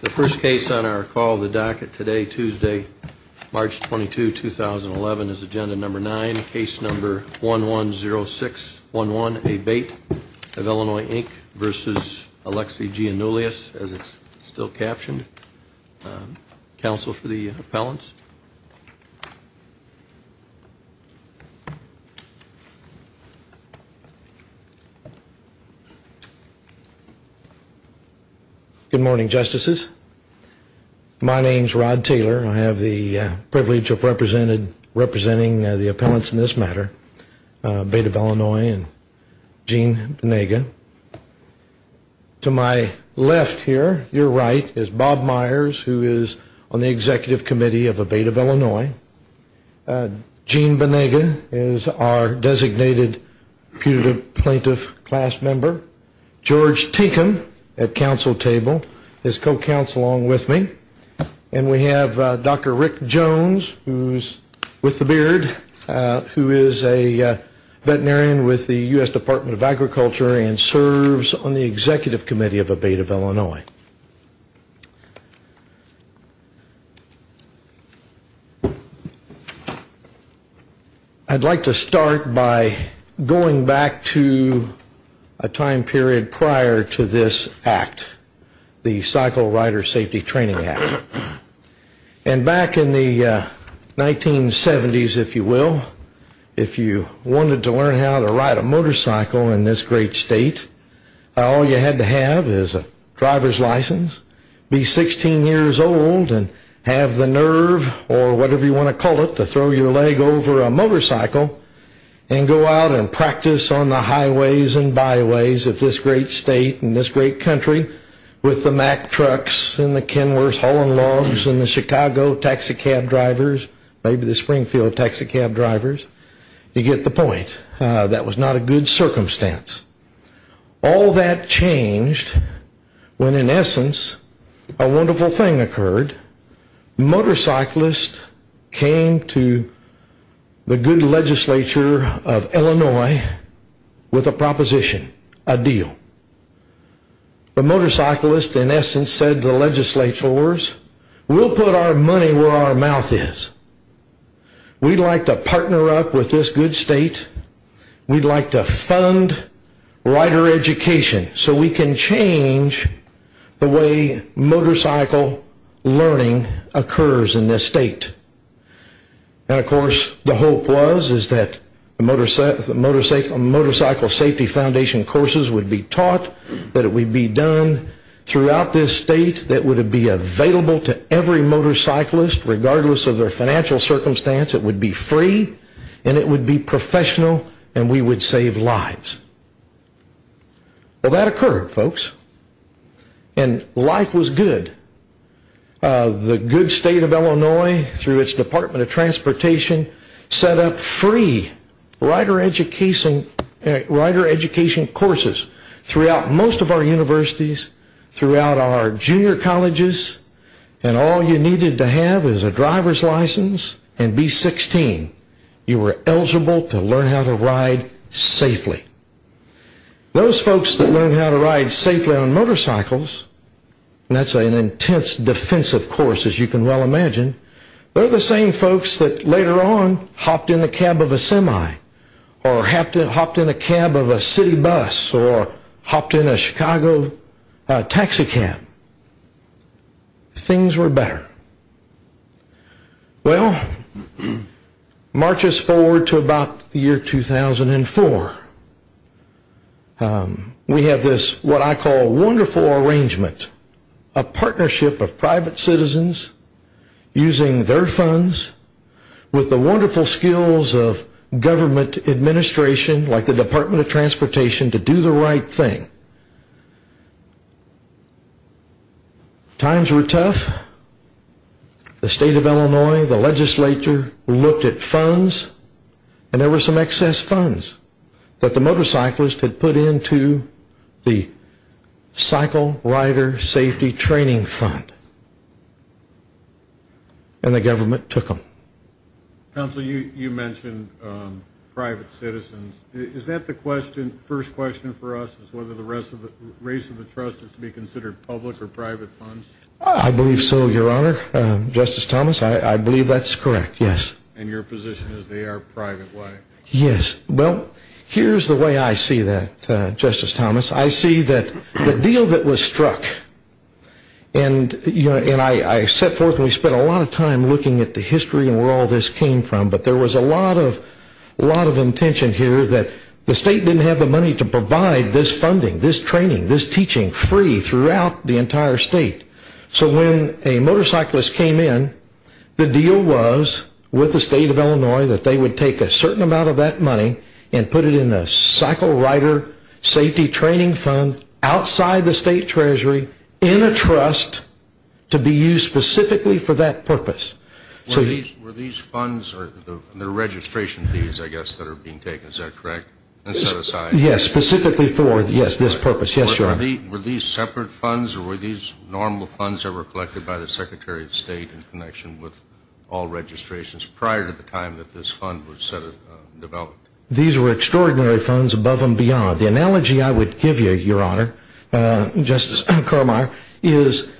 The first case on our call of the docket today, Tuesday, March 22, 2011, is Agenda Number 9, Case Number 110611A.B.A.T.E. of Illinois, Inc. v. Alexi Giannoulias, as it's still captioned. Good morning, Justices. My name is Rod Taylor. I have the privilege of representing the appellants in this matter, B.A.T.E. of Illinois and Gene Venega. To my left here, your right, is Bob Myers, who is on the Executive Committee of B.A.T.E. of Illinois. Gene Venega is our designated putative plaintiff class member. George Tinkum, at Council Table, is co-counsel along with me. And we have Dr. Rick Jones, who's with the beard, who is a veterinarian with the U.S. Department of Agriculture and serves on the Executive Committee of B.A.T.E. of Illinois. I'd like to start by going back to a time period prior to this act, the Cycle Rider Safety Training Act. And back in the 1970s, if you will, if you wanted to learn how to ride a motorcycle in this great state, all you had to have is a driver's license, be 16 years old and have the nerve, or whatever you want to call it, to throw your leg over a motorcycle and go out and practice on the highways and byways of this great state and this great country with the Mack trucks and the Kenworth hauling logs and the Chicago taxicab drivers, maybe the Springfield taxicab drivers, you get the point. That was not a good circumstance. All that changed when, in essence, a wonderful thing occurred. Motorcyclists came to the good legislature of Illinois with a proposition, a deal. The motorcyclists, in essence, said to the legislators, we'll put our money where our mouth is. We'd like to partner up with this good state. We'd like to fund rider education so we can change the way motorcycle learning occurs in this state. And, of course, the hope was that motorcycle safety foundation courses would be taught, that it would be done throughout this state, that it would be available to every motorcyclist, regardless of their financial circumstance, it would be free, and it would be professional, and we would save lives. Well, that occurred, folks. And life was good. The good state of Illinois, through its Department of Transportation, set up free rider education courses throughout most of our universities, throughout our junior colleges, and all you needed to have is a driver's license and B16. You were eligible to learn how to ride safely. Those folks that learned how to ride safely on motorcycles, and that's an intense defensive course as you can well imagine, they're the same folks that later on hopped in the cab of a semi, or hopped in the cab of a city bus, or hopped in a Chicago taxi cab. Things were better. Well, march us forward to about the year 2004. We have this, what I call, wonderful arrangement, a partnership of private citizens using their funds with the wonderful skills of government administration, like the Department of Transportation, to do the right thing. Times were tough. The state of Illinois, the legislature, looked at funds, and there were some excess funds that the motorcyclists had put into the Cycle Rider Safety Training Fund. And the government took them. Counsel, you mentioned private citizens. Is that the first question for us, is whether the rest of the race of the trust is to be considered public or private funds? I believe so, Your Honor. Justice Thomas, I believe that's correct, yes. And your position is they are private, right? Yes. Well, here's the way I see that, Justice Thomas. I see that the deal that was struck, and I set forth and we spent a lot of time looking at the history and where all this came from, but there was a lot of intention here that the state didn't have the money to provide this funding, this training, this teaching free throughout the entire state. So when a motorcyclist came in, the deal was with the state of Illinois that they would take a certain amount of that money and put it in the Cycle Rider Safety Training Fund outside the state treasury in a trust to be used specifically for that purpose. Were these funds the registration fees, I guess, that are being taken, is that correct? Yes, specifically for this purpose. Yes, Your Honor. Were these separate funds or were these normal funds that were collected by the Secretary of State in connection with all registrations prior to the time that this fund was developed? These were extraordinary funds above and beyond. The analogy I would give you, Your Honor, Justice Carmeier, is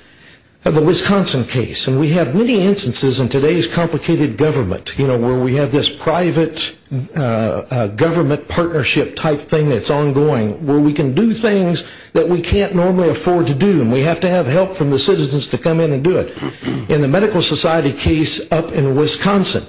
the Wisconsin case. And we have many instances in today's complicated government, you know, where we have this private government partnership type thing that's ongoing where we can do things that we can't normally afford to do and we have to have help from the citizens to come in and do it. In the Medical Society case up in Wisconsin,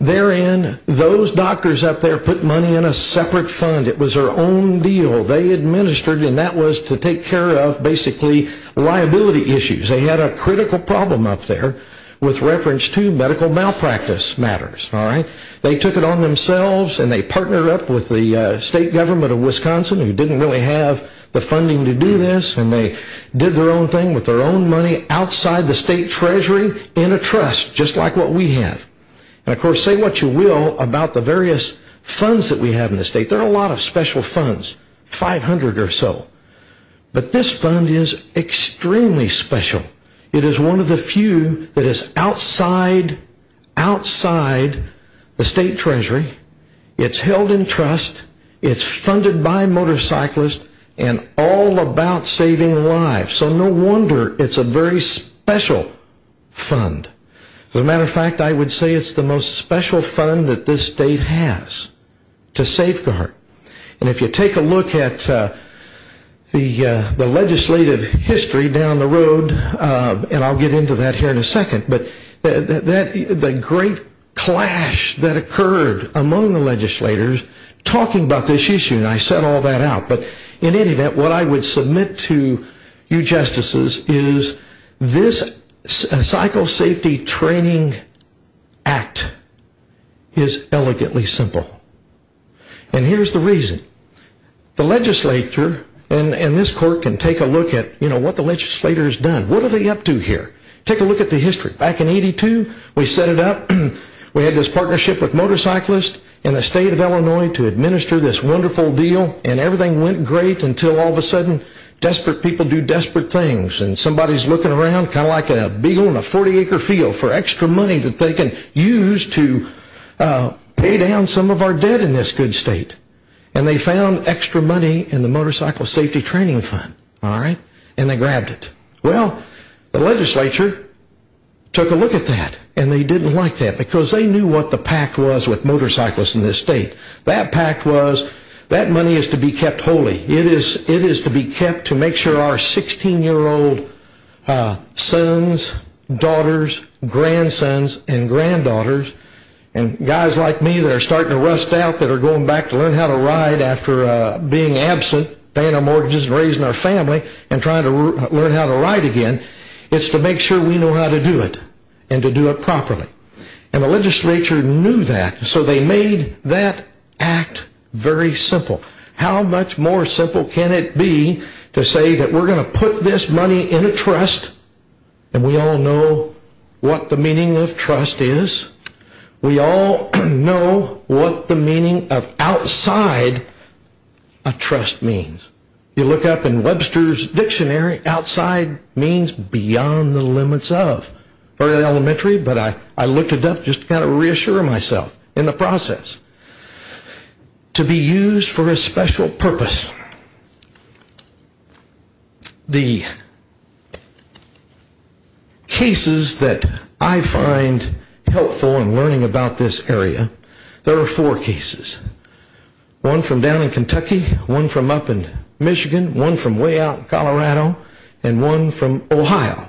therein those doctors up there put money in a separate fund. It was their own deal. They administered and that was to take care of basically liability issues. They had a critical problem up there with reference to medical malpractice matters. They took it on themselves and they partnered up with the state government of Wisconsin who didn't really have the funding to do this and they did their own thing with their own money outside the state treasury in a trust just like what we have. And, of course, say what you will about the various funds that we have in the state. There are a lot of special funds, 500 or so. But this fund is extremely special. It is one of the few that is outside the state treasury. It's held in trust. It's funded by motorcyclists and all about saving lives. So no wonder it's a very special fund. As a matter of fact, I would say it's the most special fund that this state has to safeguard. And if you take a look at the legislative history down the road, and I'll get into that here in a second, but the great clash that occurred among the legislators talking about this issue, and I set all that out. But in any event, what I would submit to you justices is this Cycle Safety Training Act is elegantly simple. And here's the reason. The legislature and this court can take a look at what the legislator has done. What are they up to here? Take a look at the history. Back in 82, we set it up. We had this partnership with motorcyclists in the state of Illinois to administer this wonderful deal and everything went great until all of a sudden desperate people do desperate things. And somebody's looking around kind of like a beagle in a 40-acre field for extra money that they can use to pay down some of our debt in this good state. And they found extra money in the Motorcycle Safety Training Fund. And they grabbed it. Well, the legislature took a look at that and they didn't like that because they knew what the pact was with motorcyclists in this state. That pact was that money is to be kept holy. It is to be kept to make sure our 16-year-old sons, daughters, grandsons, and granddaughters and guys like me that are starting to rust out that are going back to learn how to ride after being absent, paying our mortgages and raising our family and trying to learn how to ride again, it's to make sure we know how to do it and to do it properly. And the legislature knew that. So they made that act very simple. How much more simple can it be to say that we're going to put this money in a trust and we all know what the meaning of trust is. We all know what the meaning of outside a trust means. You look up in Webster's Dictionary, outside means beyond the limits of. Very elementary, but I looked it up just to kind of reassure myself in the process. To be used for a special purpose. The cases that I find helpful in learning about this area, there are four cases. One from down in Kentucky. One from up in Michigan. One from way out in Colorado. And one from Ohio.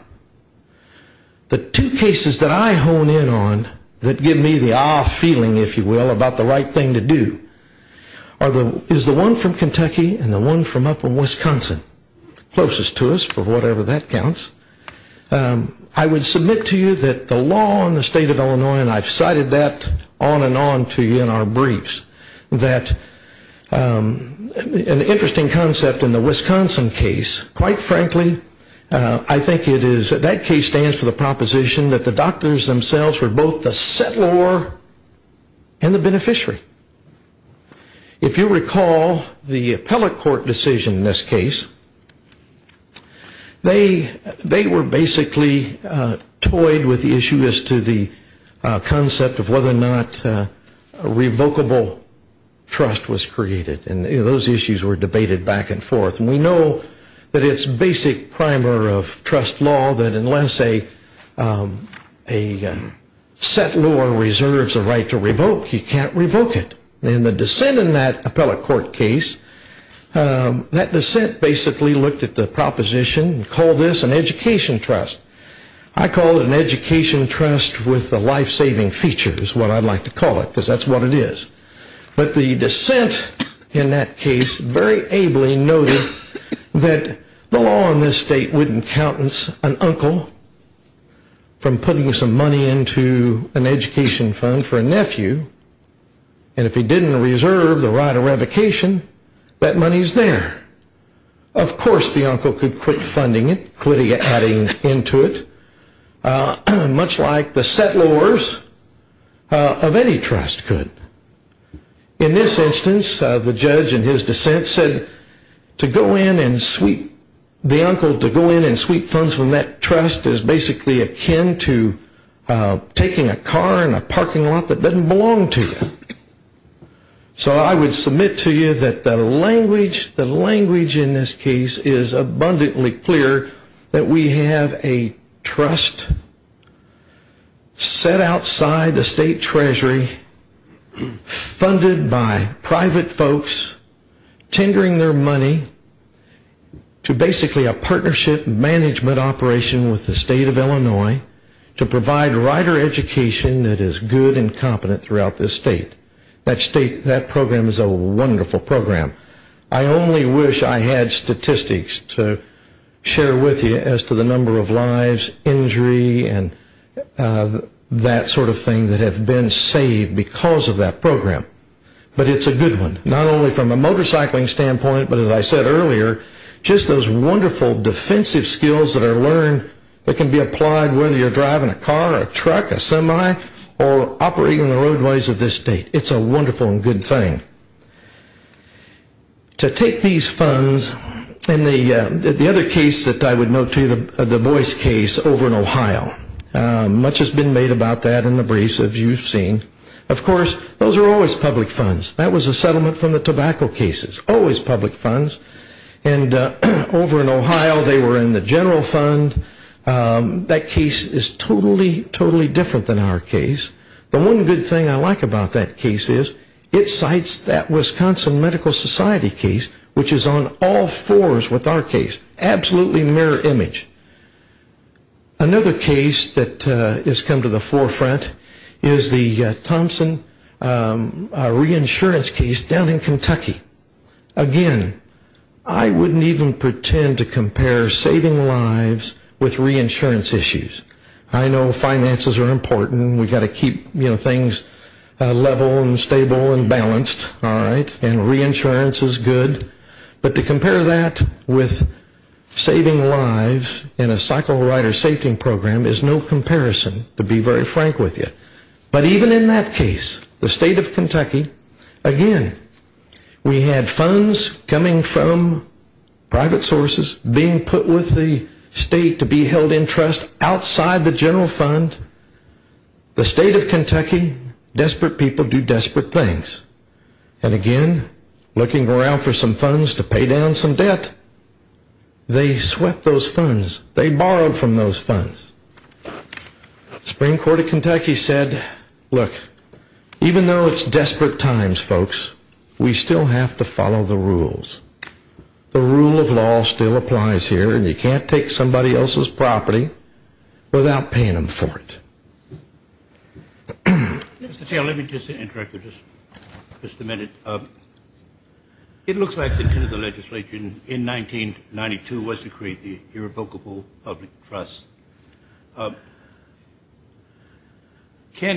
The two cases that I hone in on that give me the ah feeling, if you will, about the right thing to do, is the one from Kentucky and the one from up in Wisconsin. Closest to us, for whatever that counts. I would submit to you that the law in the state of Illinois, and I've cited that on and on to you in our briefs, that an interesting concept in the Wisconsin case, quite frankly, I think it is, that case stands for the proposition that the doctors themselves were both the settlor and the beneficiary. If you recall the appellate court decision in this case, they were basically toyed with the issue as to the concept of whether or not a revocable trust was created. And those issues were debated back and forth. And we know that it's basic primer of trust law that unless a settlor reserves a right to revoke, you can't revoke it. And the dissent in that appellate court case, that dissent basically looked at the proposition and called this an education trust. I call it an education trust with a life-saving feature, is what I'd like to call it, because that's what it is. But the dissent in that case very ably noted that the law in this state wouldn't countenance an uncle from putting some money into an education fund for a nephew. And if he didn't reserve the right of revocation, that money's there. Of course the uncle could quit funding it, quit adding into it, much like the settlors of any trust could. In this instance, the judge in his dissent said to go in and sweep, the uncle to go in and sweep funds from that trust is basically akin to taking a car in a parking lot that doesn't belong to you. So I would submit to you that the language in this case is abundantly clear that we have a trust set outside the state treasury funded by private folks tendering their money to basically a partnership management operation with the state of Illinois to provide rider education that is good and competent throughout this state. That program is a wonderful program. I only wish I had statistics to share with you as to the number of lives, injury, and that sort of thing that have been saved because of that program. But it's a good one, not only from a motorcycling standpoint, but as I said earlier, just those wonderful defensive skills that are learned that can be applied whether you're driving a car, a truck, a semi, or operating the roadways of this state. It's a wonderful and good thing. To take these funds and the other case that I would note to you, the Boyce case over in Ohio, much has been made about that in the briefs as you've seen. Of course, those are always public funds. That was a settlement from the tobacco cases. Always public funds. And over in Ohio, they were in the general fund. That case is totally, totally different than our case. The one good thing I like about that case is it cites that Wisconsin Medical Society case, which is on all fours with our case. Absolutely mirror image. Another case that has come to the forefront is the Thompson reinsurance case down in Kentucky. Again, I wouldn't even pretend to compare saving lives with reinsurance issues. I know finances are important. We've got to keep things level and stable and balanced. And reinsurance is good. But to compare that with saving lives in a cycle rider safety program is no comparison, to be very frank with you. But even in that case, the state of Kentucky, again, we had funds coming from private sources being put with the state to be held in trust outside the general fund. The state of Kentucky, desperate people do desperate things. And again, looking around for some funds to pay down some debt, they swept those funds. They borrowed from those funds. The Supreme Court of Kentucky said, look, even though it's desperate times, folks, we still have to follow the rules. The rule of law still applies here. And you can't take somebody else's property without paying them for it. Mr. Taylor, let me just interrupt you just a minute. It looks like the intent of the legislature in 1992 was to create the irrevocable public trust. Can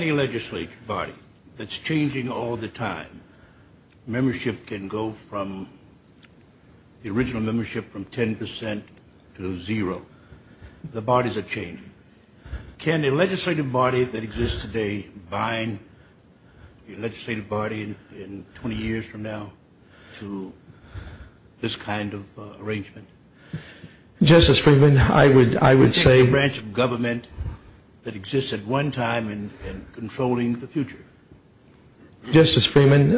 a legislative body that's changing all the time, membership can go from the original membership from 10% to zero, the bodies are changing. Can a legislative body that exists today bind a legislative body in 20 years from now to this kind of arrangement? Justice Freeman, I would say. A branch of government that exists at one time and controlling the future. Justice Freeman,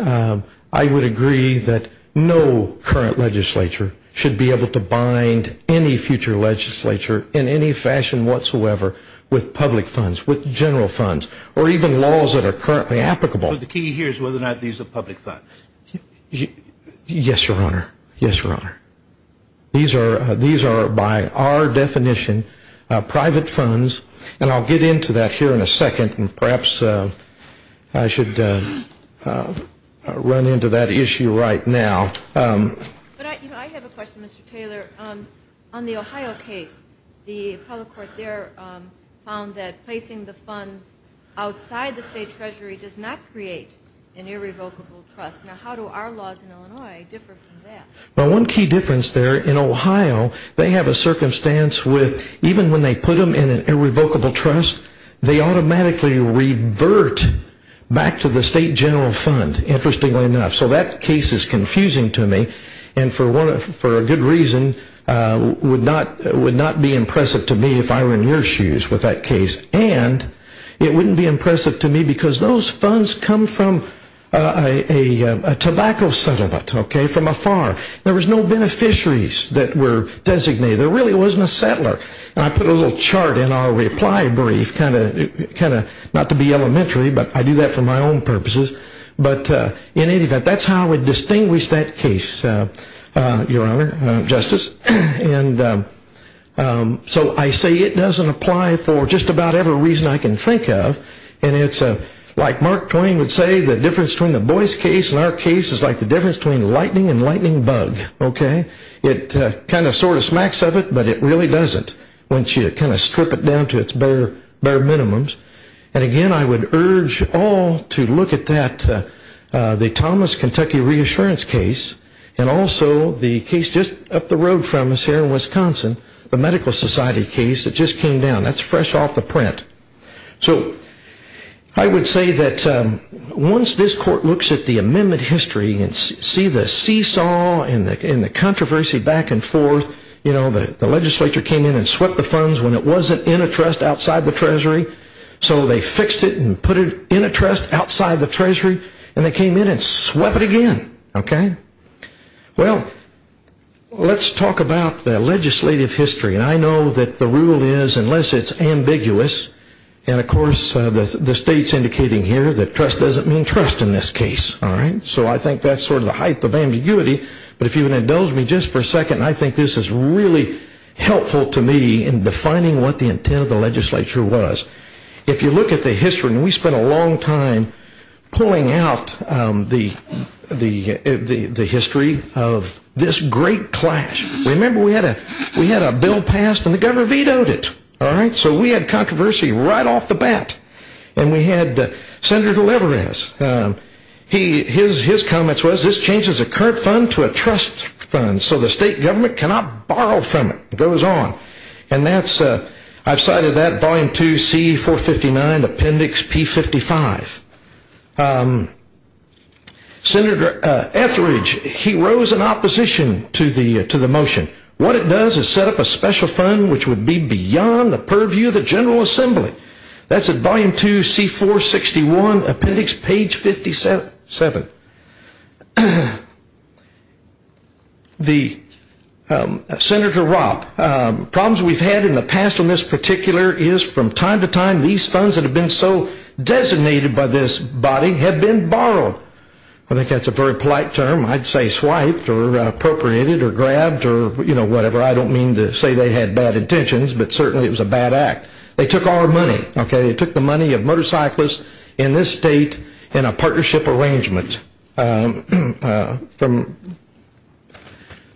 I would agree that no current legislature should be able to bind any future legislature in any fashion whatsoever with public funds, with general funds, or even laws that are currently applicable. But the key here is whether or not these are public funds. Yes, Your Honor. Yes, Your Honor. These are, by our definition, private funds. And I'll get into that here in a second, and perhaps I should run into that issue right now. I have a question, Mr. Taylor. On the Ohio case, the public court there found that placing the funds outside the state treasury does not create an irrevocable trust. Now, how do our laws in Illinois differ from that? Well, one key difference there in Ohio, they have a circumstance with even when they put them in an irrevocable trust, they automatically revert back to the state general fund, interestingly enough. So that case is confusing to me, and for a good reason, would not be impressive to me if I were in your shoes with that case. And it wouldn't be impressive to me because those funds come from a tobacco settlement, okay, from a farm. There was no beneficiaries that were designated. There really wasn't a settler. And I put a little chart in our reply brief, kind of, not to be elementary, but I do that for my own purposes. But in any event, that's how we distinguish that case, Your Honor, Justice. And so I say it doesn't apply for just about every reason I can think of. And it's like Mark Twain would say, the difference between the Boyce case and our case is like the difference between lightning and lightning bug. Okay? It kind of sort of smacks of it, but it really doesn't once you kind of strip it down to its bare minimums. And again, I would urge all to look at that, the Thomas, Kentucky, reassurance case, and also the case just up the road from us here in Wisconsin, the Medical Society case that just came down. That's fresh off the print. So I would say that once this court looks at the amendment history and see the seesaw and the controversy back and forth, you know, the legislature came in and swept the funds when it wasn't in a trust outside the treasury. So they fixed it and put it in a trust outside the treasury, and they came in and swept it again. Okay? Well, let's talk about the legislative history. And I know that the rule is, unless it's ambiguous, and of course the state's indicating here that trust doesn't mean trust in this case. All right? So I think that's sort of the height of ambiguity. But if you would indulge me just for a second, I think this is really helpful to me in defining what the intent of the legislature was. If you look at the history, and we spent a long time pulling out the history of this great clash. Remember, we had a bill passed and the government vetoed it. All right? So we had controversy right off the bat. And we had Senator Leveres. His comments was, this changes a current fund to a trust fund, so the state government cannot borrow from it. It goes on. And that's, I've cited that, Volume 2, C459, Appendix P55. Senator Etheridge, he rose in opposition to the motion. What it does is set up a special fund which would be beyond the purview of the General Assembly. That's at Volume 2, C461, Appendix P57. Senator Ropp, problems we've had in the past on this particular is from time to time, these funds that have been so designated by this body have been borrowed. I think that's a very polite term. I'd say swiped or appropriated or grabbed or, you know, whatever. I don't mean to say they had bad intentions, but certainly it was a bad act. They took our money. They took the money of motorcyclists in this state in a partnership arrangement.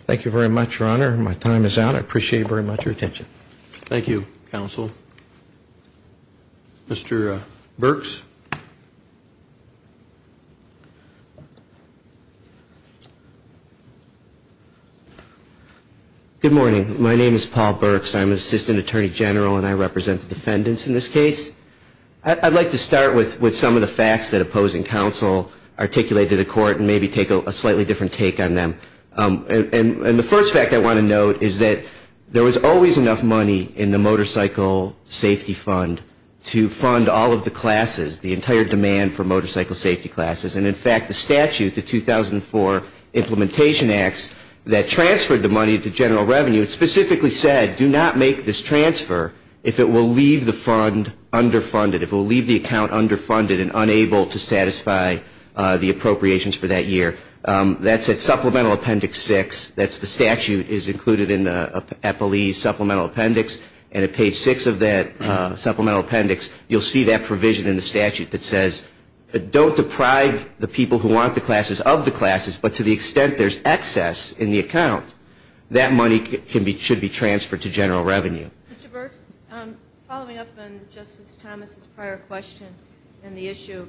Thank you very much, Your Honor. My time is out. I appreciate very much your attention. Thank you, Counsel. Mr. Burks. Good morning. My name is Paul Burks. I'm an assistant attorney general, and I represent the defendants in this case. I'd like to start with some of the facts that opposing counsel articulated to the court and maybe take a slightly different take on them. And the first fact I want to note is that there was always enough money in the Motorcycle Safety Fund to fund all of the classes, the entire demand for motorcycle safety classes. And, in fact, the statute, the 2004 Implementation Acts, that transferred the money to general revenue and specifically said, do not make this transfer if it will leave the fund underfunded, if it will leave the account underfunded and unable to satisfy the appropriations for that year. That's at Supplemental Appendix 6. That's the statute is included in the Appellee's Supplemental Appendix. And at page 6 of that Supplemental Appendix, you'll see that provision in the statute that says, don't deprive the people who want the classes of the classes, but to the extent there's excess in the account, that money should be transferred to general revenue. Mr. Burks, following up on Justice Thomas's prior question and the issue,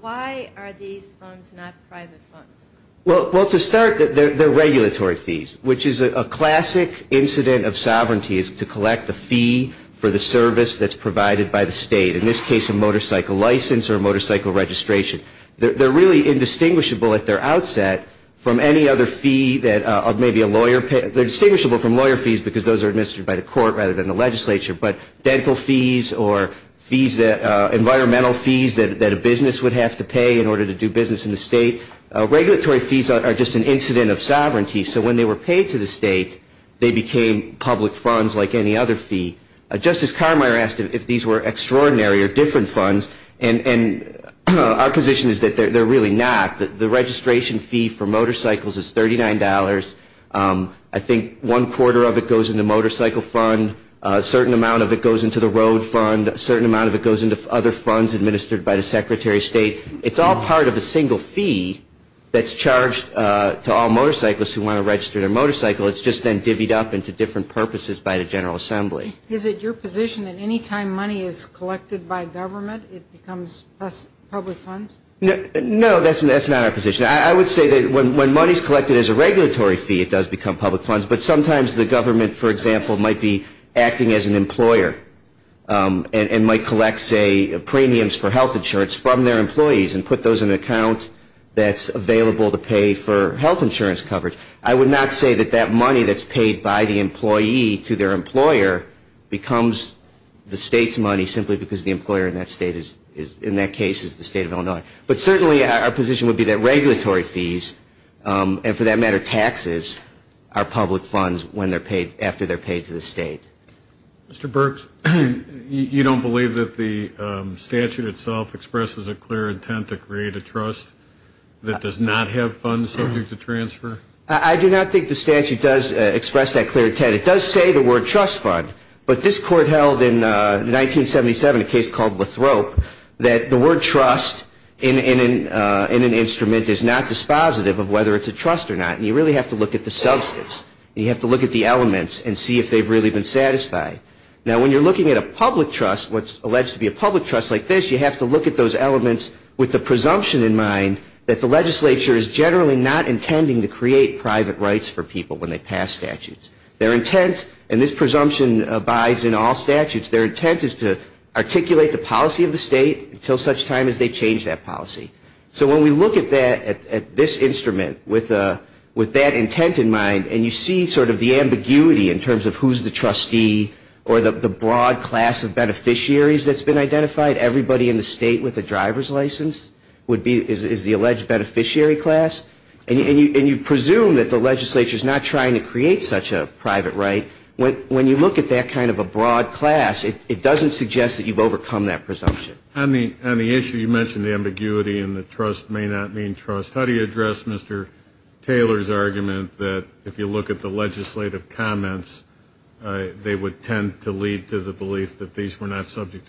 why are these funds not private funds? Well, to start, they're regulatory fees, which is a classic incident of sovereignty is to collect the fee for the service that's provided by the state, in this case a motorcycle license or a motorcycle registration. They're really indistinguishable at their outset from any other fee that maybe a lawyer pays. They're distinguishable from lawyer fees because those are administered by the court rather than the legislature, but dental fees or environmental fees that a business would have to pay in order to do business in the state. Regulatory fees are just an incident of sovereignty. So when they were paid to the state, they became public funds like any other fee. Justice Carmeier asked if these were extraordinary or different funds, and our position is that they're really not. The registration fee for motorcycles is $39. I think one quarter of it goes in the motorcycle fund. A certain amount of it goes into the road fund. A certain amount of it goes into other funds administered by the Secretary of State. It's all part of a single fee that's charged to all motorcyclists who want to register their motorcycle. It's just then divvied up into different purposes by the General Assembly. Is it your position that any time money is collected by government, it becomes public funds? No, that's not our position. I would say that when money is collected as a regulatory fee, it does become public funds, but sometimes the government, for example, might be acting as an employer and might collect, say, premiums for health insurance from their employees and put those in an account that's available to pay for health insurance coverage. I would not say that that money that's paid by the employee to their employer becomes the state's money simply because the employer in that case is the state of Illinois. But certainly our position would be that regulatory fees, and for that matter taxes, are public funds after they're paid to the state. Mr. Burks, you don't believe that the statute itself expresses a clear intent to create a trust that does not have funds subject to transfer? I do not think the statute does express that clear intent. It does say the word trust fund, but this court held in 1977 a case called Lathrop that the word trust in an instrument is not dispositive of whether it's a trust or not, and you really have to look at the substance. You have to look at the elements and see if they've really been satisfied. Now, when you're looking at a public trust, what's alleged to be a public trust like this, you have to look at those elements with the presumption in mind that the legislature is generally not intending to create private rights for people when they pass statutes. Their intent, and this presumption abides in all statutes, their intent is to articulate the policy of the state until such time as they change that policy. So when we look at this instrument with that intent in mind, and you see sort of the ambiguity in terms of who's the trustee or the broad class of beneficiaries that's been identified, everybody in the state with a driver's license is the alleged beneficiary class, and you presume that the legislature is not trying to create such a private right, when you look at that kind of a broad class, it doesn't suggest that you've overcome that presumption. On the issue you mentioned, the ambiguity and the trust may not mean trust, how do you address Mr. Taylor's argument that if you look at the legislative comments, they would tend to lead to the belief that these funds were not subject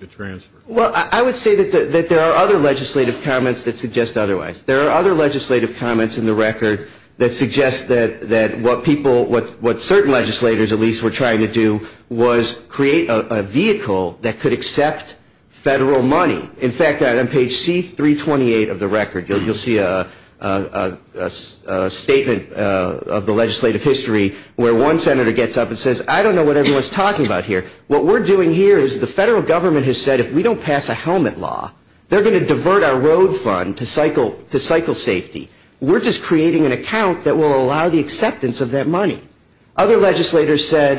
to transfer? Well, I would say that there are other legislative comments that suggest otherwise. There are other legislative comments in the record that suggest that what certain legislators, at least, were trying to do was create a vehicle that could accept federal money. In fact, on page C328 of the record, you'll see a statement of the legislative history where one senator gets up and says, I don't know what everyone's talking about here. What we're doing here is the federal government has said if we don't pass a helmet law, they're going to divert our road fund to cycle safety. We're just creating an account that will allow the acceptance of that money. Other legislators said,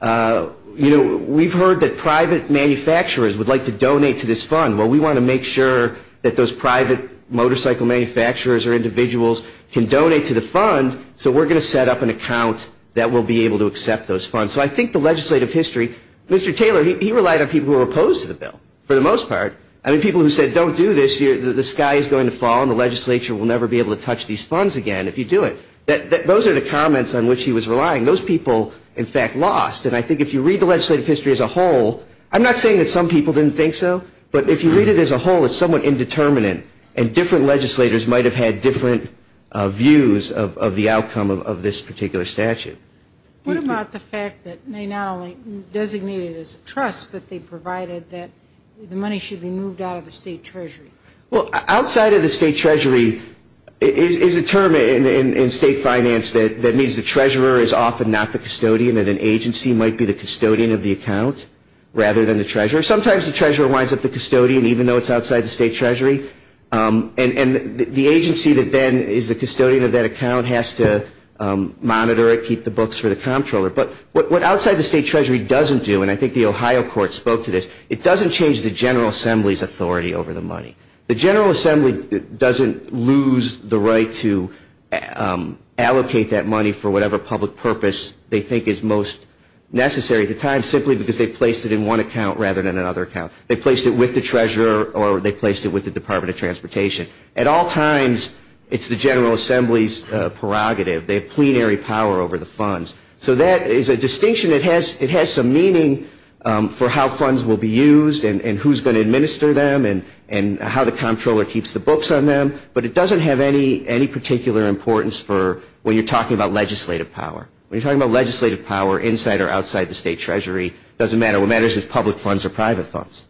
you know, we've heard that private manufacturers would like to donate to this fund. Well, we want to make sure that those private motorcycle manufacturers or individuals can donate to the fund, so we're going to set up an account that will be able to accept those funds. So I think the legislative history, Mr. Taylor, he relied on people who were opposed to the bill, for the most part. I mean, people who said don't do this, the sky is going to fall and the legislature will never be able to touch these funds again if you do it. Those are the comments on which he was relying. Those people, in fact, lost. And I think if you read the legislative history as a whole, I'm not saying that some people didn't think so, but if you read it as a whole, it's somewhat indeterminate, and different legislators might have had different views of the outcome of this particular statute. What about the fact that they not only designated it as a trust, but they provided that the money should be moved out of the state treasury? Well, outside of the state treasury is a term in state finance that means the treasurer is often not the custodian and an agency might be the custodian of the account rather than the treasurer. Sometimes the treasurer winds up the custodian, even though it's outside the state treasury. And the agency that then is the custodian of that account has to monitor it, keep the books for the comptroller. But what outside the state treasury doesn't do, and I think the Ohio court spoke to this, it doesn't change the General Assembly's authority over the money. The General Assembly doesn't lose the right to allocate that money for whatever public purpose they think is most necessary at the time simply because they placed it in one account rather than another account. They placed it with the treasurer or they placed it with the Department of Transportation. At all times, it's the General Assembly's prerogative. They have plenary power over the funds. So that is a distinction. It has some meaning for how funds will be used and who's going to administer them and how the comptroller keeps the books on them, but it doesn't have any particular importance for when you're talking about legislative power. When you're talking about legislative power inside or outside the state treasury, it doesn't matter what matters if it's public funds or private funds.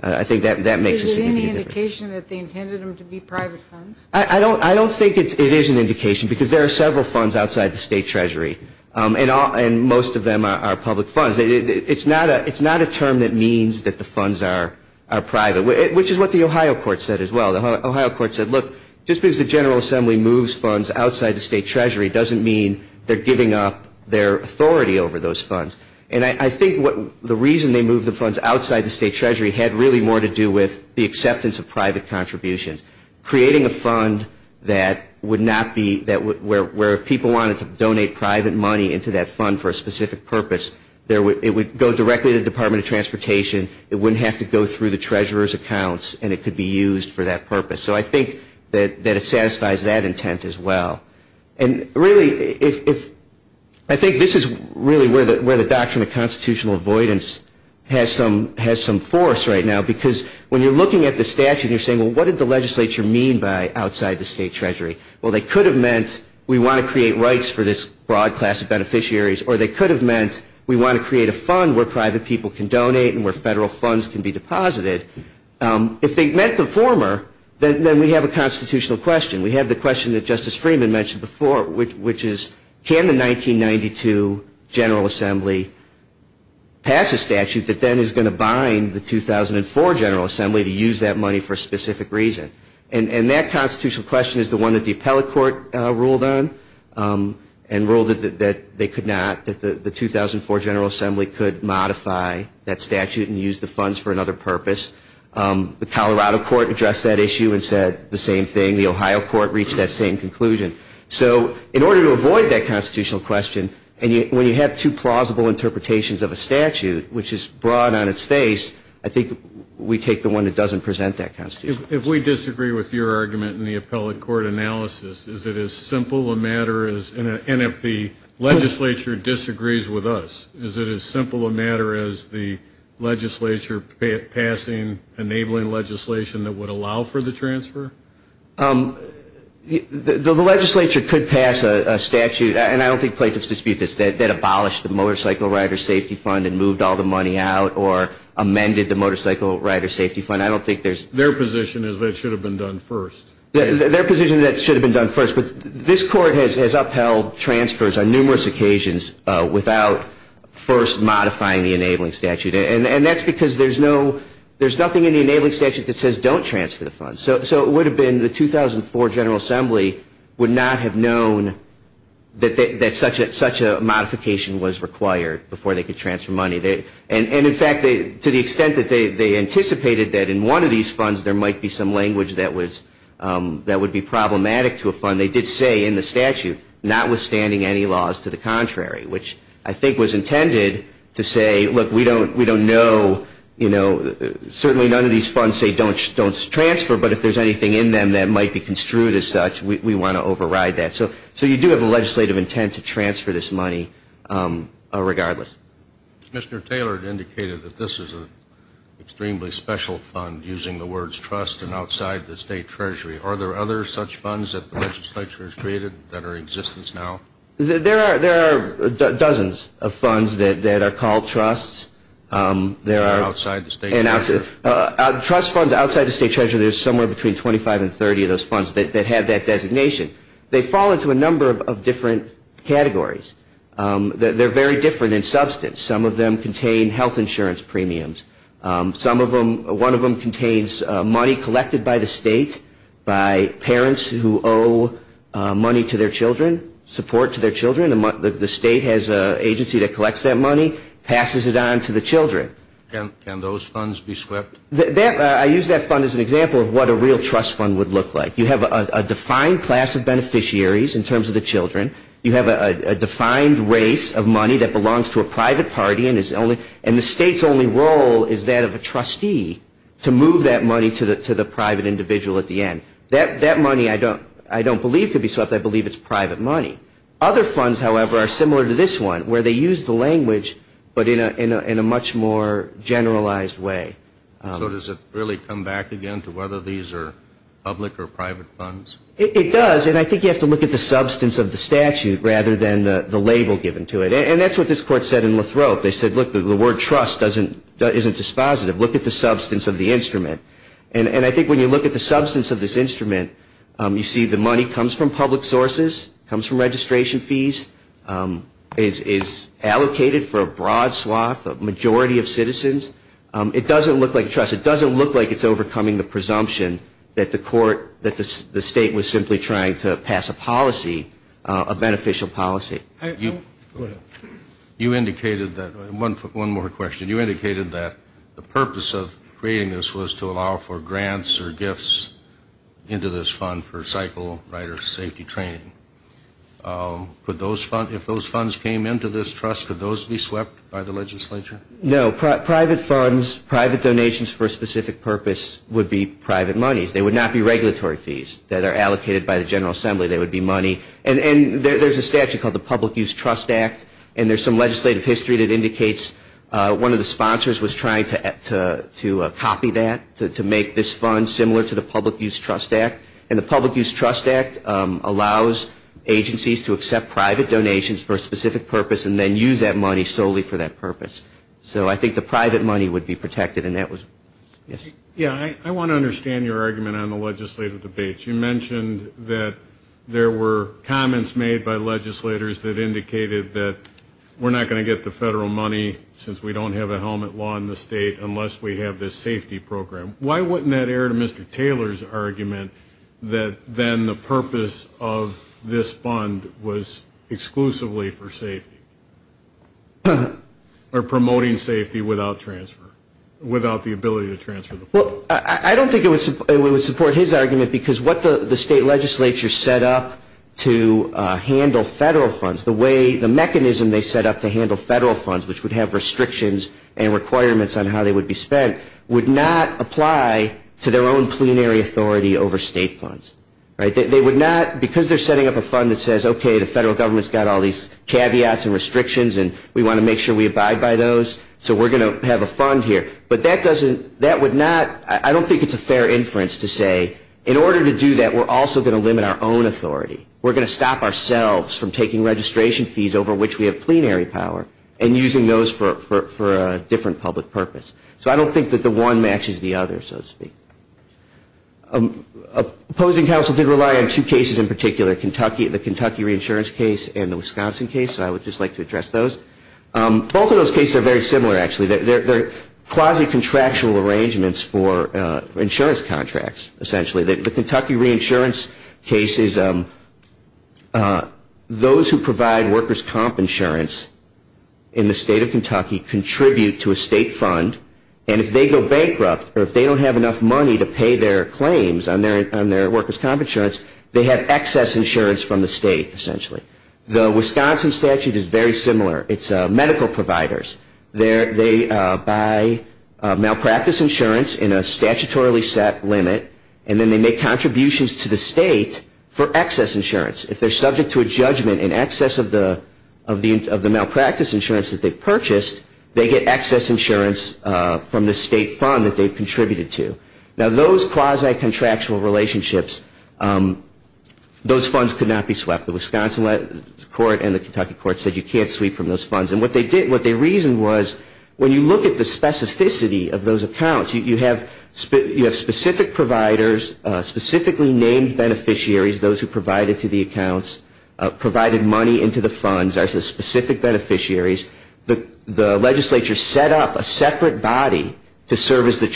I think that makes a significant difference. Is there any indication that they intended them to be private funds? I don't think it is an indication because there are several funds outside the state treasury. And most of them are public funds. It's not a term that means that the funds are private, which is what the Ohio court said as well. The Ohio court said, look, just because the General Assembly moves funds outside the state treasury doesn't mean they're giving up their authority over those funds. And I think the reason they moved the funds outside the state treasury had really more to do with the acceptance of private contributions. Creating a fund where if people wanted to donate private money into that fund for a specific purpose, it would go directly to the Department of Transportation. It wouldn't have to go through the treasurer's accounts, and it could be used for that purpose. So I think that it satisfies that intent as well. And really, I think this is really where the doctrine of constitutional avoidance has some force right now because when you're looking at the statute and you're saying, well, what did the legislature mean by outside the state treasury? Well, they could have meant we want to create rights for this broad class of beneficiaries, or they could have meant we want to create a fund where private people can donate and where federal funds can be deposited. If they meant the former, then we have a constitutional question. We have the question that Justice Freeman mentioned before, which is can the 1992 General Assembly pass a statute that then is going to bind the 2004 General Assembly to use that money for a specific reason? And that constitutional question is the one that the appellate court ruled on and ruled that they could not, that the 2004 General Assembly could modify that statute and use the funds for another purpose. The Colorado court addressed that issue and said the same thing. The Ohio court reached that same conclusion. So in order to avoid that constitutional question, and when you have two plausible interpretations of a statute, which is broad on its face, I think we take the one that doesn't present that constitutional question. If we disagree with your argument in the appellate court analysis, is it as simple a matter as, and if the legislature disagrees with us, is it as simple a matter as the legislature passing enabling legislation that would allow for the transfer? The legislature could pass a statute, and I don't think plaintiffs dispute this, that abolished the Motorcycle Rider Safety Fund and moved all the money out or amended the Motorcycle Rider Safety Fund. Their position is that it should have been done first. Their position is that it should have been done first. But this court has upheld transfers on numerous occasions without first modifying the enabling statute. And that's because there's nothing in the enabling statute that says don't transfer the funds. So it would have been the 2004 General Assembly would not have known that such a modification was required before they could transfer money. And, in fact, to the extent that they anticipated that in one of these funds there might be some language that would be problematic to a fund, they did say in the statute notwithstanding any laws to the contrary, which I think was intended to say, look, we don't know. Certainly none of these funds say don't transfer, but if there's anything in them that might be construed as such, we want to override that. So you do have a legislative intent to transfer this money regardless. Mr. Taylor had indicated that this is an extremely special fund, using the words trust and outside the state treasury. Are there other such funds that the legislature has created that are in existence now? There are dozens of funds that are called trusts. And outside the state treasury? Trust funds outside the state treasury, there's somewhere between 25 and 30 of those funds that have that designation. They fall into a number of different categories. They're very different in substance. Some of them contain health insurance premiums. One of them contains money collected by the state by parents who owe money to their children, support to their children. The state has an agency that collects that money, passes it on to the children. Can those funds be swept? I use that fund as an example of what a real trust fund would look like. You have a defined class of beneficiaries in terms of the children. You have a defined race of money that belongs to a private party, and the state's only role is that of a trustee to move that money to the private individual at the end. That money I don't believe could be swept. I believe it's private money. Other funds, however, are similar to this one where they use the language but in a much more generalized way. So does it really come back again to whether these are public or private funds? It does. And I think you have to look at the substance of the statute rather than the label given to it. And that's what this court said in Lathrop. They said, look, the word trust isn't dispositive. Look at the substance of the instrument. And I think when you look at the substance of this instrument, you see the money comes from public sources, comes from registration fees, is allocated for a broad swath, a majority of citizens. It doesn't look like trust. It doesn't look like it's overcoming the presumption that the court, that the state was simply trying to pass a policy, a beneficial policy. You indicated that, one more question. You indicated that the purpose of creating this was to allow for grants or gifts into this fund for cycle rider safety training. If those funds came into this trust, could those be swept by the legislature? No. Private funds, private donations for a specific purpose would be private monies. They would not be regulatory fees that are allocated by the General Assembly. They would be money. And there's a statute called the Public Use Trust Act, and there's some legislative history that indicates one of the sponsors was trying to copy that, to make this fund similar to the Public Use Trust Act. And the Public Use Trust Act allows agencies to accept private donations for a specific purpose and then use that money solely for that purpose. So I think the private money would be protected, and that was it. Yeah, I want to understand your argument on the legislative debate. You mentioned that there were comments made by legislators that indicated that we're not going to get the federal money since we don't have a helmet law in the state unless we have this safety program. Why wouldn't that err to Mr. Taylor's argument that then the purpose of this fund was exclusively for safety or promoting safety without transfer, without the ability to transfer the funds? Well, I don't think it would support his argument because what the state legislature set up to handle federal funds, the mechanism they set up to handle federal funds, which would have restrictions and requirements on how they would be spent, would not apply to their own plenary authority over state funds. Because they're setting up a fund that says, okay, the federal government's got all these caveats and restrictions and we want to make sure we abide by those, so we're going to have a fund here. But I don't think it's a fair inference to say, in order to do that, we're also going to limit our own authority. We're going to stop ourselves from taking registration fees over which we have plenary power and using those for a different public purpose. So I don't think that the one matches the other, so to speak. Opposing counsel did rely on two cases in particular, the Kentucky reinsurance case and the Wisconsin case, so I would just like to address those. Both of those cases are very similar, actually. They're quasi-contractual arrangements for insurance contracts, essentially. The Kentucky reinsurance case is those who provide workers' comp insurance in the state of Kentucky contribute to a state fund, and if they go bankrupt or if they don't have enough money to pay their claims on their workers' comp insurance, they have excess insurance from the state, essentially. The Wisconsin statute is very similar. It's medical providers. They buy malpractice insurance in a statutorily set limit, and then they make contributions to the state for excess insurance. If they're subject to a judgment in excess of the malpractice insurance that they've purchased, they get excess insurance from the state fund that they've contributed to. Now, those quasi-contractual relationships, those funds could not be swept. The Wisconsin court and the Kentucky court said you can't sweep from those funds. And what they reasoned was when you look at the specificity of those accounts, you have specific providers, specifically named beneficiaries, those who provided to the accounts, provided money into the funds as the specific beneficiaries. The legislature set up a separate body to serve as the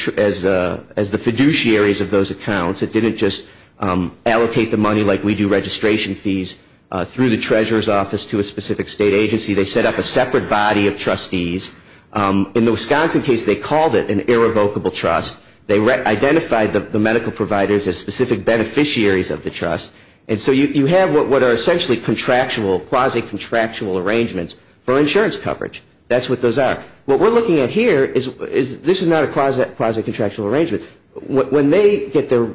fiduciaries of those accounts. It didn't just allocate the money like we do registration fees through the treasurer's office to a specific state agency. They set up a separate body of trustees. In the Wisconsin case, they called it an irrevocable trust. They identified the medical providers as specific beneficiaries of the trust. And so you have what are essentially contractual, quasi-contractual arrangements for insurance coverage. That's what those are. What we're looking at here is this is not a quasi-contractual arrangement. When they get their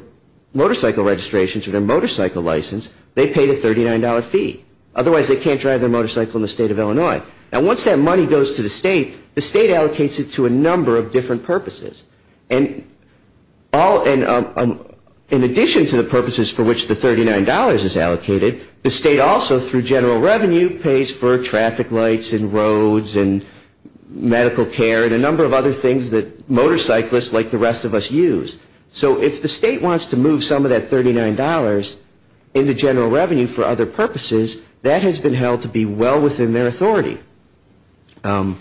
motorcycle registrations or their motorcycle license, they pay the $39 fee. Otherwise, they can't drive their motorcycle in the state of Illinois. And once that money goes to the state, the state allocates it to a number of different purposes. And in addition to the purposes for which the $39 is allocated, the state also through general revenue pays for traffic lights and roads and medical care and a number of other things that motorcyclists like the rest of us use. So if the state wants to move some of that $39 into general revenue for other purposes, that has been held to be well within their authority. And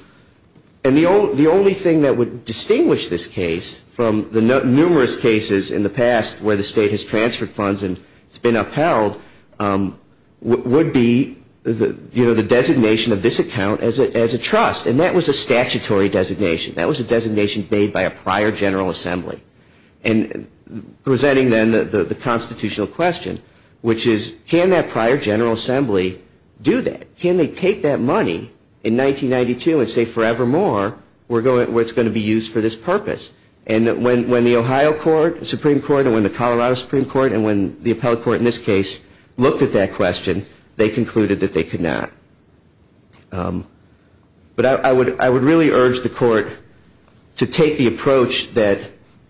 the only thing that would distinguish this case from the numerous cases in the past where the state has transferred funds and it's been upheld would be the designation of this account as a trust. And that was a statutory designation. That was a designation made by a prior General Assembly. And presenting then the constitutional question, which is can that prior General Assembly do that? Can they take that money in 1992 and say forevermore where it's going to be used for this purpose? And when the Ohio Supreme Court and when the Colorado Supreme Court and when the appellate court in this case looked at that question, they concluded that they could not. But I would really urge the court to take the approach that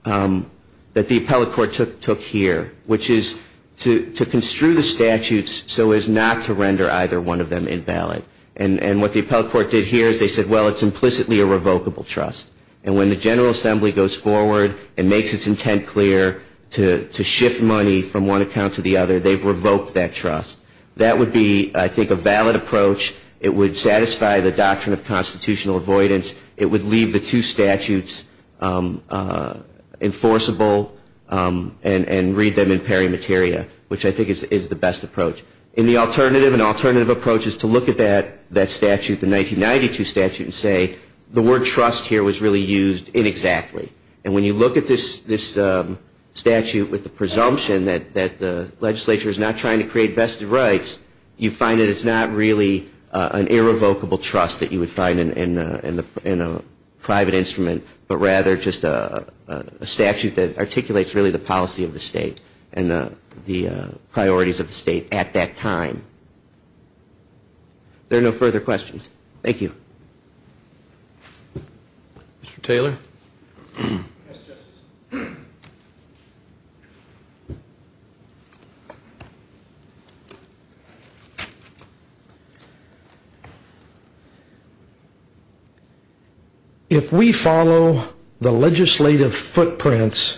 the appellate court took here, which is to construe the statutes so as not to render either one of them invalid. And what the appellate court did here is they said, well, it's implicitly a revocable trust. And when the General Assembly goes forward and makes its intent clear to shift money from one account to the other, they've revoked that trust. That would be, I think, a valid approach. It would satisfy the doctrine of constitutional avoidance. It would leave the two statutes enforceable and read them in peri materia, which I think is the best approach. And the alternative, an alternative approach is to look at that statute, the 1992 statute, and say the word trust here was really used inexactly. And when you look at this statute with the presumption that the legislature is not trying to create vested rights, you find that it's not really an irrevocable trust that you would find in a private instrument, but rather just a statute that articulates really the policy of the state and the priorities of the state at that time. There are no further questions. Thank you. Mr. Taylor. Yes, Justice. If we follow the legislative footprints,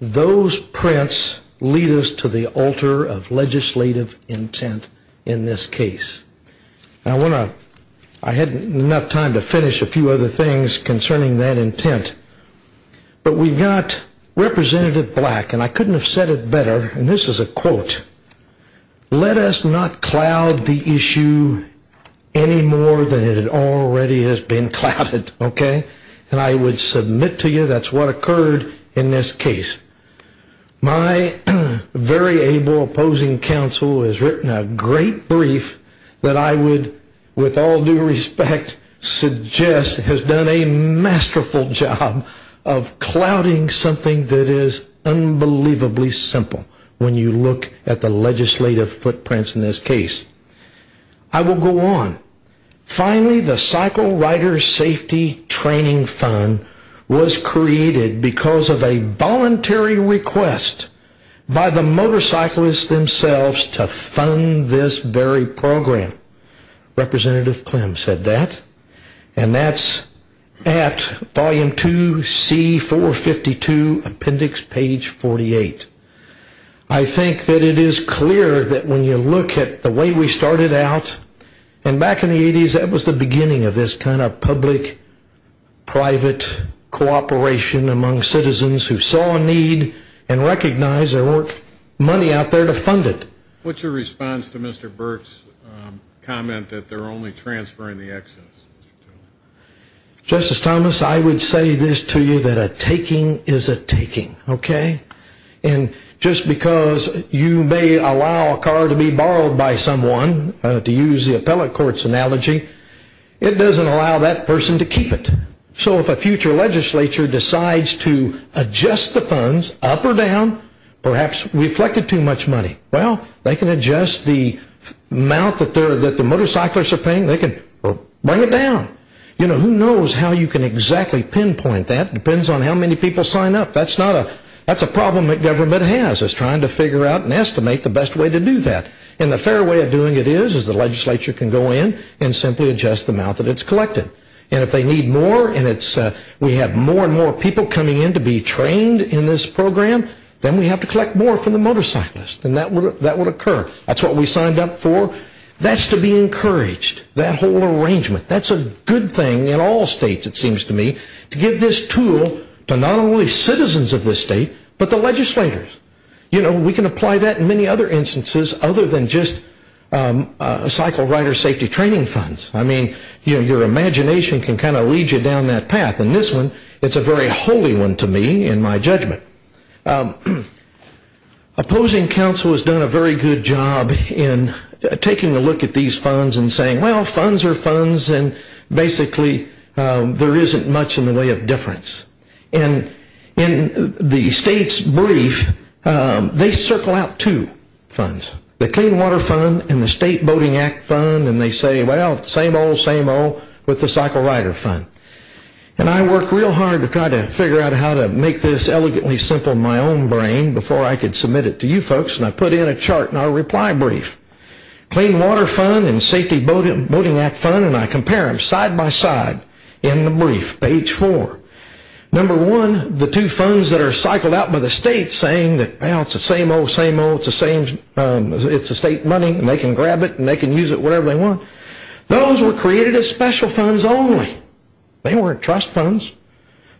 those prints lead us to the altar of legislative intent in this case. I had enough time to finish a few other things concerning that intent, but we've got Representative Black, and I couldn't have said it better, and this is a quote. Let us not cloud the issue any more than it already has been clouded, okay? And I would submit to you that's what occurred in this case. My very able opposing counsel has written a great brief that I would, with all due respect, suggest has done a masterful job of clouding something that is unbelievably simple when you look at the legislative footprints in this case. I will go on. Finally, the Cycle Rider Safety Training Fund was created because of a voluntary request by the motorcyclists themselves to fund this very program. Representative Clem said that, and that's at volume 2, C452, appendix page 48. I think that it is clear that when you look at the way we started out, and back in the 80s that was the beginning of this kind of public-private cooperation among citizens who saw a need and recognized there weren't money out there to fund it. What's your response to Mr. Burke's comment that they're only transferring the excess? Justice Thomas, I would say this to you, that a taking is a taking, okay? And just because you may allow a car to be borrowed by someone, to use the appellate court's analogy, it doesn't allow that person to keep it. So if a future legislature decides to adjust the funds up or down, perhaps we've collected too much money. Well, they can adjust the amount that the motorcyclists are paying. They can bring it down. You know, who knows how you can exactly pinpoint that. It depends on how many people sign up. That's a problem that government has, is trying to figure out and estimate the best way to do that. And the fair way of doing it is, is the legislature can go in and simply adjust the amount that it's collected. And if they need more, and we have more and more people coming in to be trained in this program, then we have to collect more from the motorcyclists. And that would occur. That's what we signed up for. That's to be encouraged, that whole arrangement. That's a good thing in all states, it seems to me, to give this tool to not only citizens of this state, but the legislators. You know, we can apply that in many other instances other than just cycle rider safety training funds. I mean, your imagination can kind of lead you down that path. And this one, it's a very holy one to me in my judgment. Opposing counsel has done a very good job in taking a look at these funds and saying, well, funds are funds and basically there isn't much in the way of difference. And in the state's brief, they circle out two funds. The Clean Water Fund and the State Boating Act Fund. And they say, well, same old, same old with the Cycle Rider Fund. And I worked real hard to try to figure out how to make this elegantly simple in my own brain before I could submit it to you folks. And I put in a chart in our reply brief. Clean Water Fund and Safety Boating Act Fund. And I compare them side by side in the brief, page four. Number one, the two funds that are cycled out by the state saying, well, it's the same old, same old. It's the state money and they can grab it and they can use it wherever they want. Those were created as special funds only. They weren't trust funds.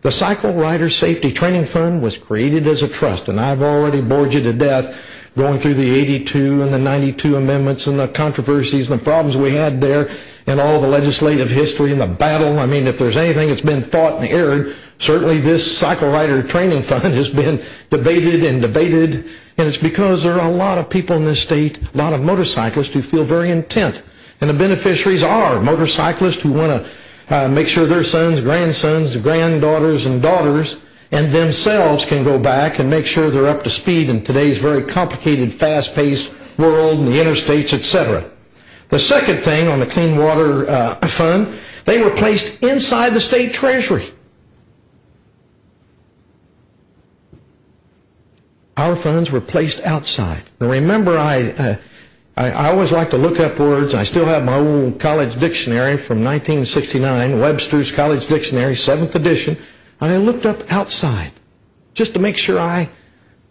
The Cycle Rider Safety Training Fund was created as a trust. And I've already bored you to death going through the 82 and the 92 amendments and the controversies and the problems we had there and all the legislative history and the battle. I mean, if there's anything that's been fought and erred, certainly this Cycle Rider Training Fund has been debated and debated. And it's because there are a lot of people in this state, a lot of motorcyclists who feel very intent. And the beneficiaries are motorcyclists who want to make sure their sons, grandsons, granddaughters and daughters and themselves can go back and make sure they're up to speed in today's very complicated, fast-paced world and the interstates, et cetera. The second thing on the Clean Water Fund, they were placed inside the state treasury. Our funds were placed outside. And remember, I always like to look upwards. I still have my old college dictionary from 1969, Webster's College Dictionary, 7th edition. And I looked up outside just to make sure I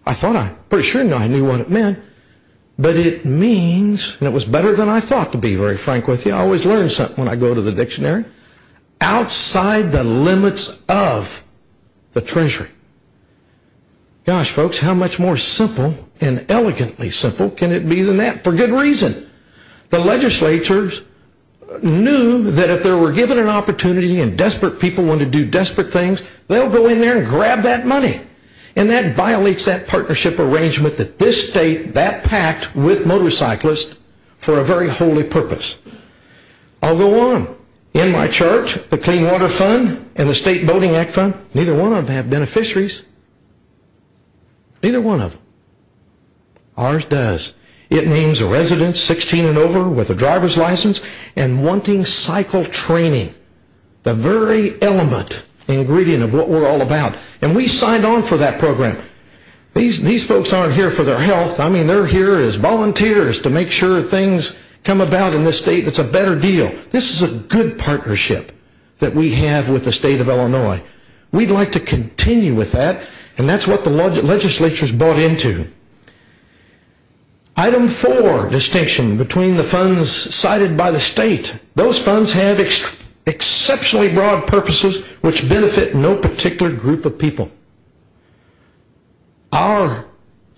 thought I pretty sure I knew what it meant. But it means, and it was better than I thought to be very frank with you. I always learn something when I go to the dictionary. Outside the limits of the treasury. Gosh, folks, how much more simple and elegantly simple can it be than that? For good reason. The legislatures knew that if they were given an opportunity and desperate people wanted to do desperate things, they'll go in there and grab that money. And that violates that partnership arrangement that this state, that pact with motorcyclists, for a very holy purpose. I'll go on. In my chart, the Clean Water Fund and the State Boating Act Fund, neither one of them have beneficiaries. Neither one of them. Ours does. It names residents 16 and over with a driver's license and wanting cycle training. The very element, ingredient of what we're all about. And we signed on for that program. These folks aren't here for their health. I mean, they're here as volunteers to make sure things come about in this state. It's a better deal. We'd like to continue with that. And that's what the legislatures bought into. Item 4, distinction between the funds cited by the state. Those funds have exceptionally broad purposes which benefit no particular group of people. Our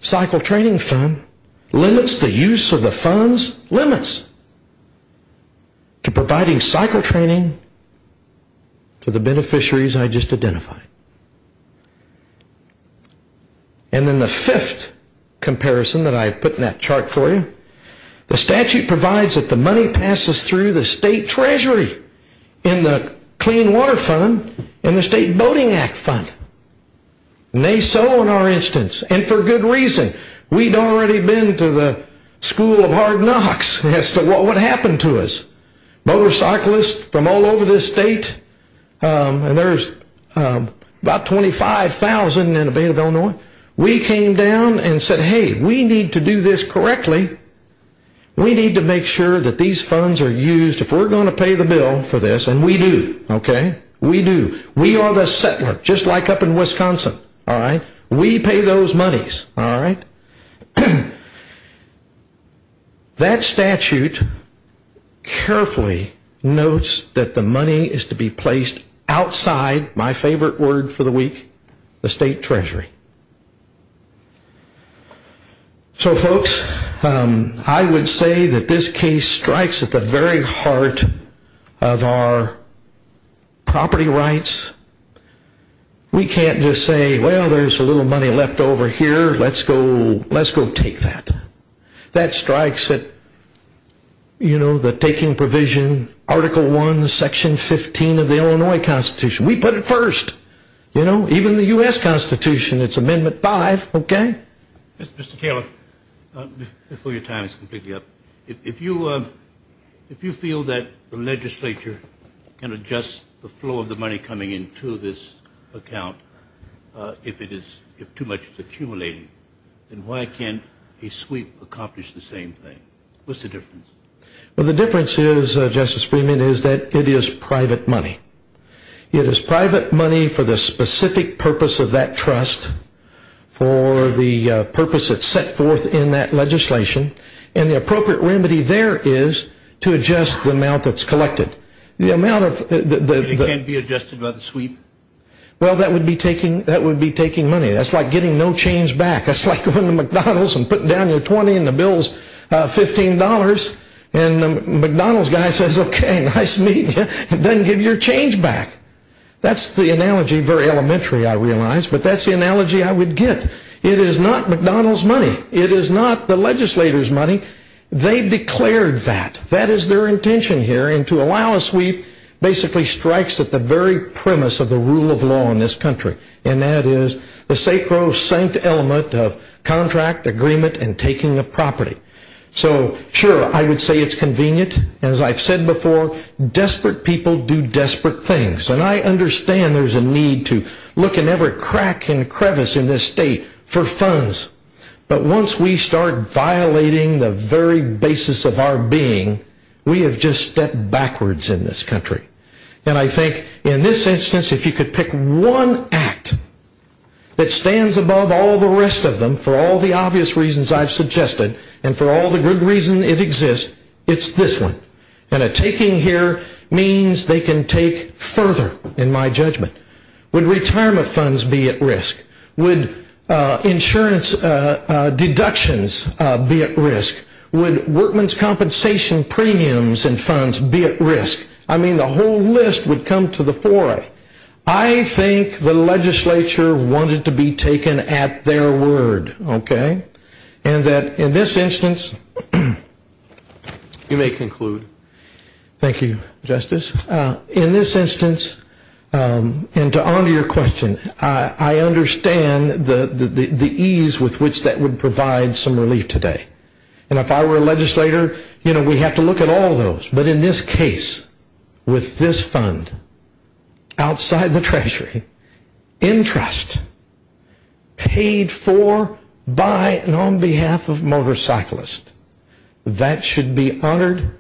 cycle training fund limits the use of the funds, limits, to providing cycle training to the beneficiaries I just identified. And then the fifth comparison that I put in that chart for you. The statute provides that the money passes through the state treasury in the Clean Water Fund and the State Boating Act Fund. Nay so in our instance. And for good reason. We'd already been to the school of hard knocks as to what would happen to us. Motorcyclists from all over this state. And there's about 25,000 in the state of Illinois. We came down and said, hey, we need to do this correctly. We need to make sure that these funds are used. If we're going to pay the bill for this, and we do, okay, we do. We are the settler just like up in Wisconsin. We pay those monies. All right. That statute carefully notes that the money is to be placed outside, my favorite word for the week, the state treasury. So folks, I would say that this case strikes at the very heart of our property rights. We can't just say, well, there's a little money left over here. Let's go take that. That strikes at, you know, the taking provision, Article I, Section 15 of the Illinois Constitution. We put it first. You know, even the U.S. Constitution, it's Amendment 5, okay? Mr. Taylor, before your time is completely up, if you feel that the legislature can adjust the flow of the money coming into this account, if too much is accumulating, then why can't a sweep accomplish the same thing? What's the difference? Well, the difference is, Justice Freeman, is that it is private money. It is private money for the specific purpose of that trust, for the purpose it's set forth in that legislation, and the appropriate remedy there is to adjust the amount that's collected. It can't be adjusted by the sweep? Well, that would be taking money. That's like getting no change back. That's like going to McDonald's and putting down your 20 and the bill's $15, and the McDonald's guy says, okay, nice to meet you, and doesn't give your change back. That's the analogy, very elementary, I realize, but that's the analogy I would get. It is not McDonald's money. It is not the legislator's money. They declared that. That is their intention here, and to allow a sweep basically strikes at the very premise of the rule of law in this country, and that is the sacrosanct element of contract, agreement, and taking of property. So, sure, I would say it's convenient. As I've said before, desperate people do desperate things, and I understand there's a need to look in every crack and crevice in this state for funds, but once we start violating the very basis of our being, we have just stepped backwards in this country, and I think in this instance, if you could pick one act that stands above all the rest of them for all the obvious reasons I've suggested and for all the good reason it exists, it's this one, and a taking here means they can take further, in my judgment. Would retirement funds be at risk? Would insurance deductions be at risk? Would workman's compensation premiums and funds be at risk? I mean, the whole list would come to the fore. I think the legislature wanted to be taken at their word, okay, and that in this instance, you may conclude. Thank you, Justice. In this instance, and to honor your question, I understand the ease with which that would provide some relief today, and if I were a legislator, you know, we have to look at all those, but in this case, with this fund, outside the treasury, in trust, paid for by and on behalf of motorcyclists, that should be honored.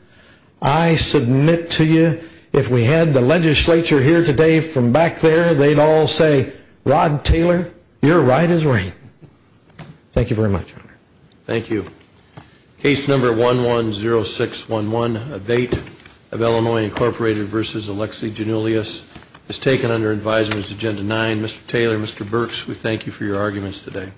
I submit to you, if we had the legislature here today from back there, they'd all say, Rod Taylor, you're right as rain. Thank you very much, Your Honor. Thank you. Case number 110611, abate of Illinois Incorporated v. Alexi Janulius, is taken under advisement as agenda 9. Mr. Taylor, Mr. Burks, we thank you for your arguments today.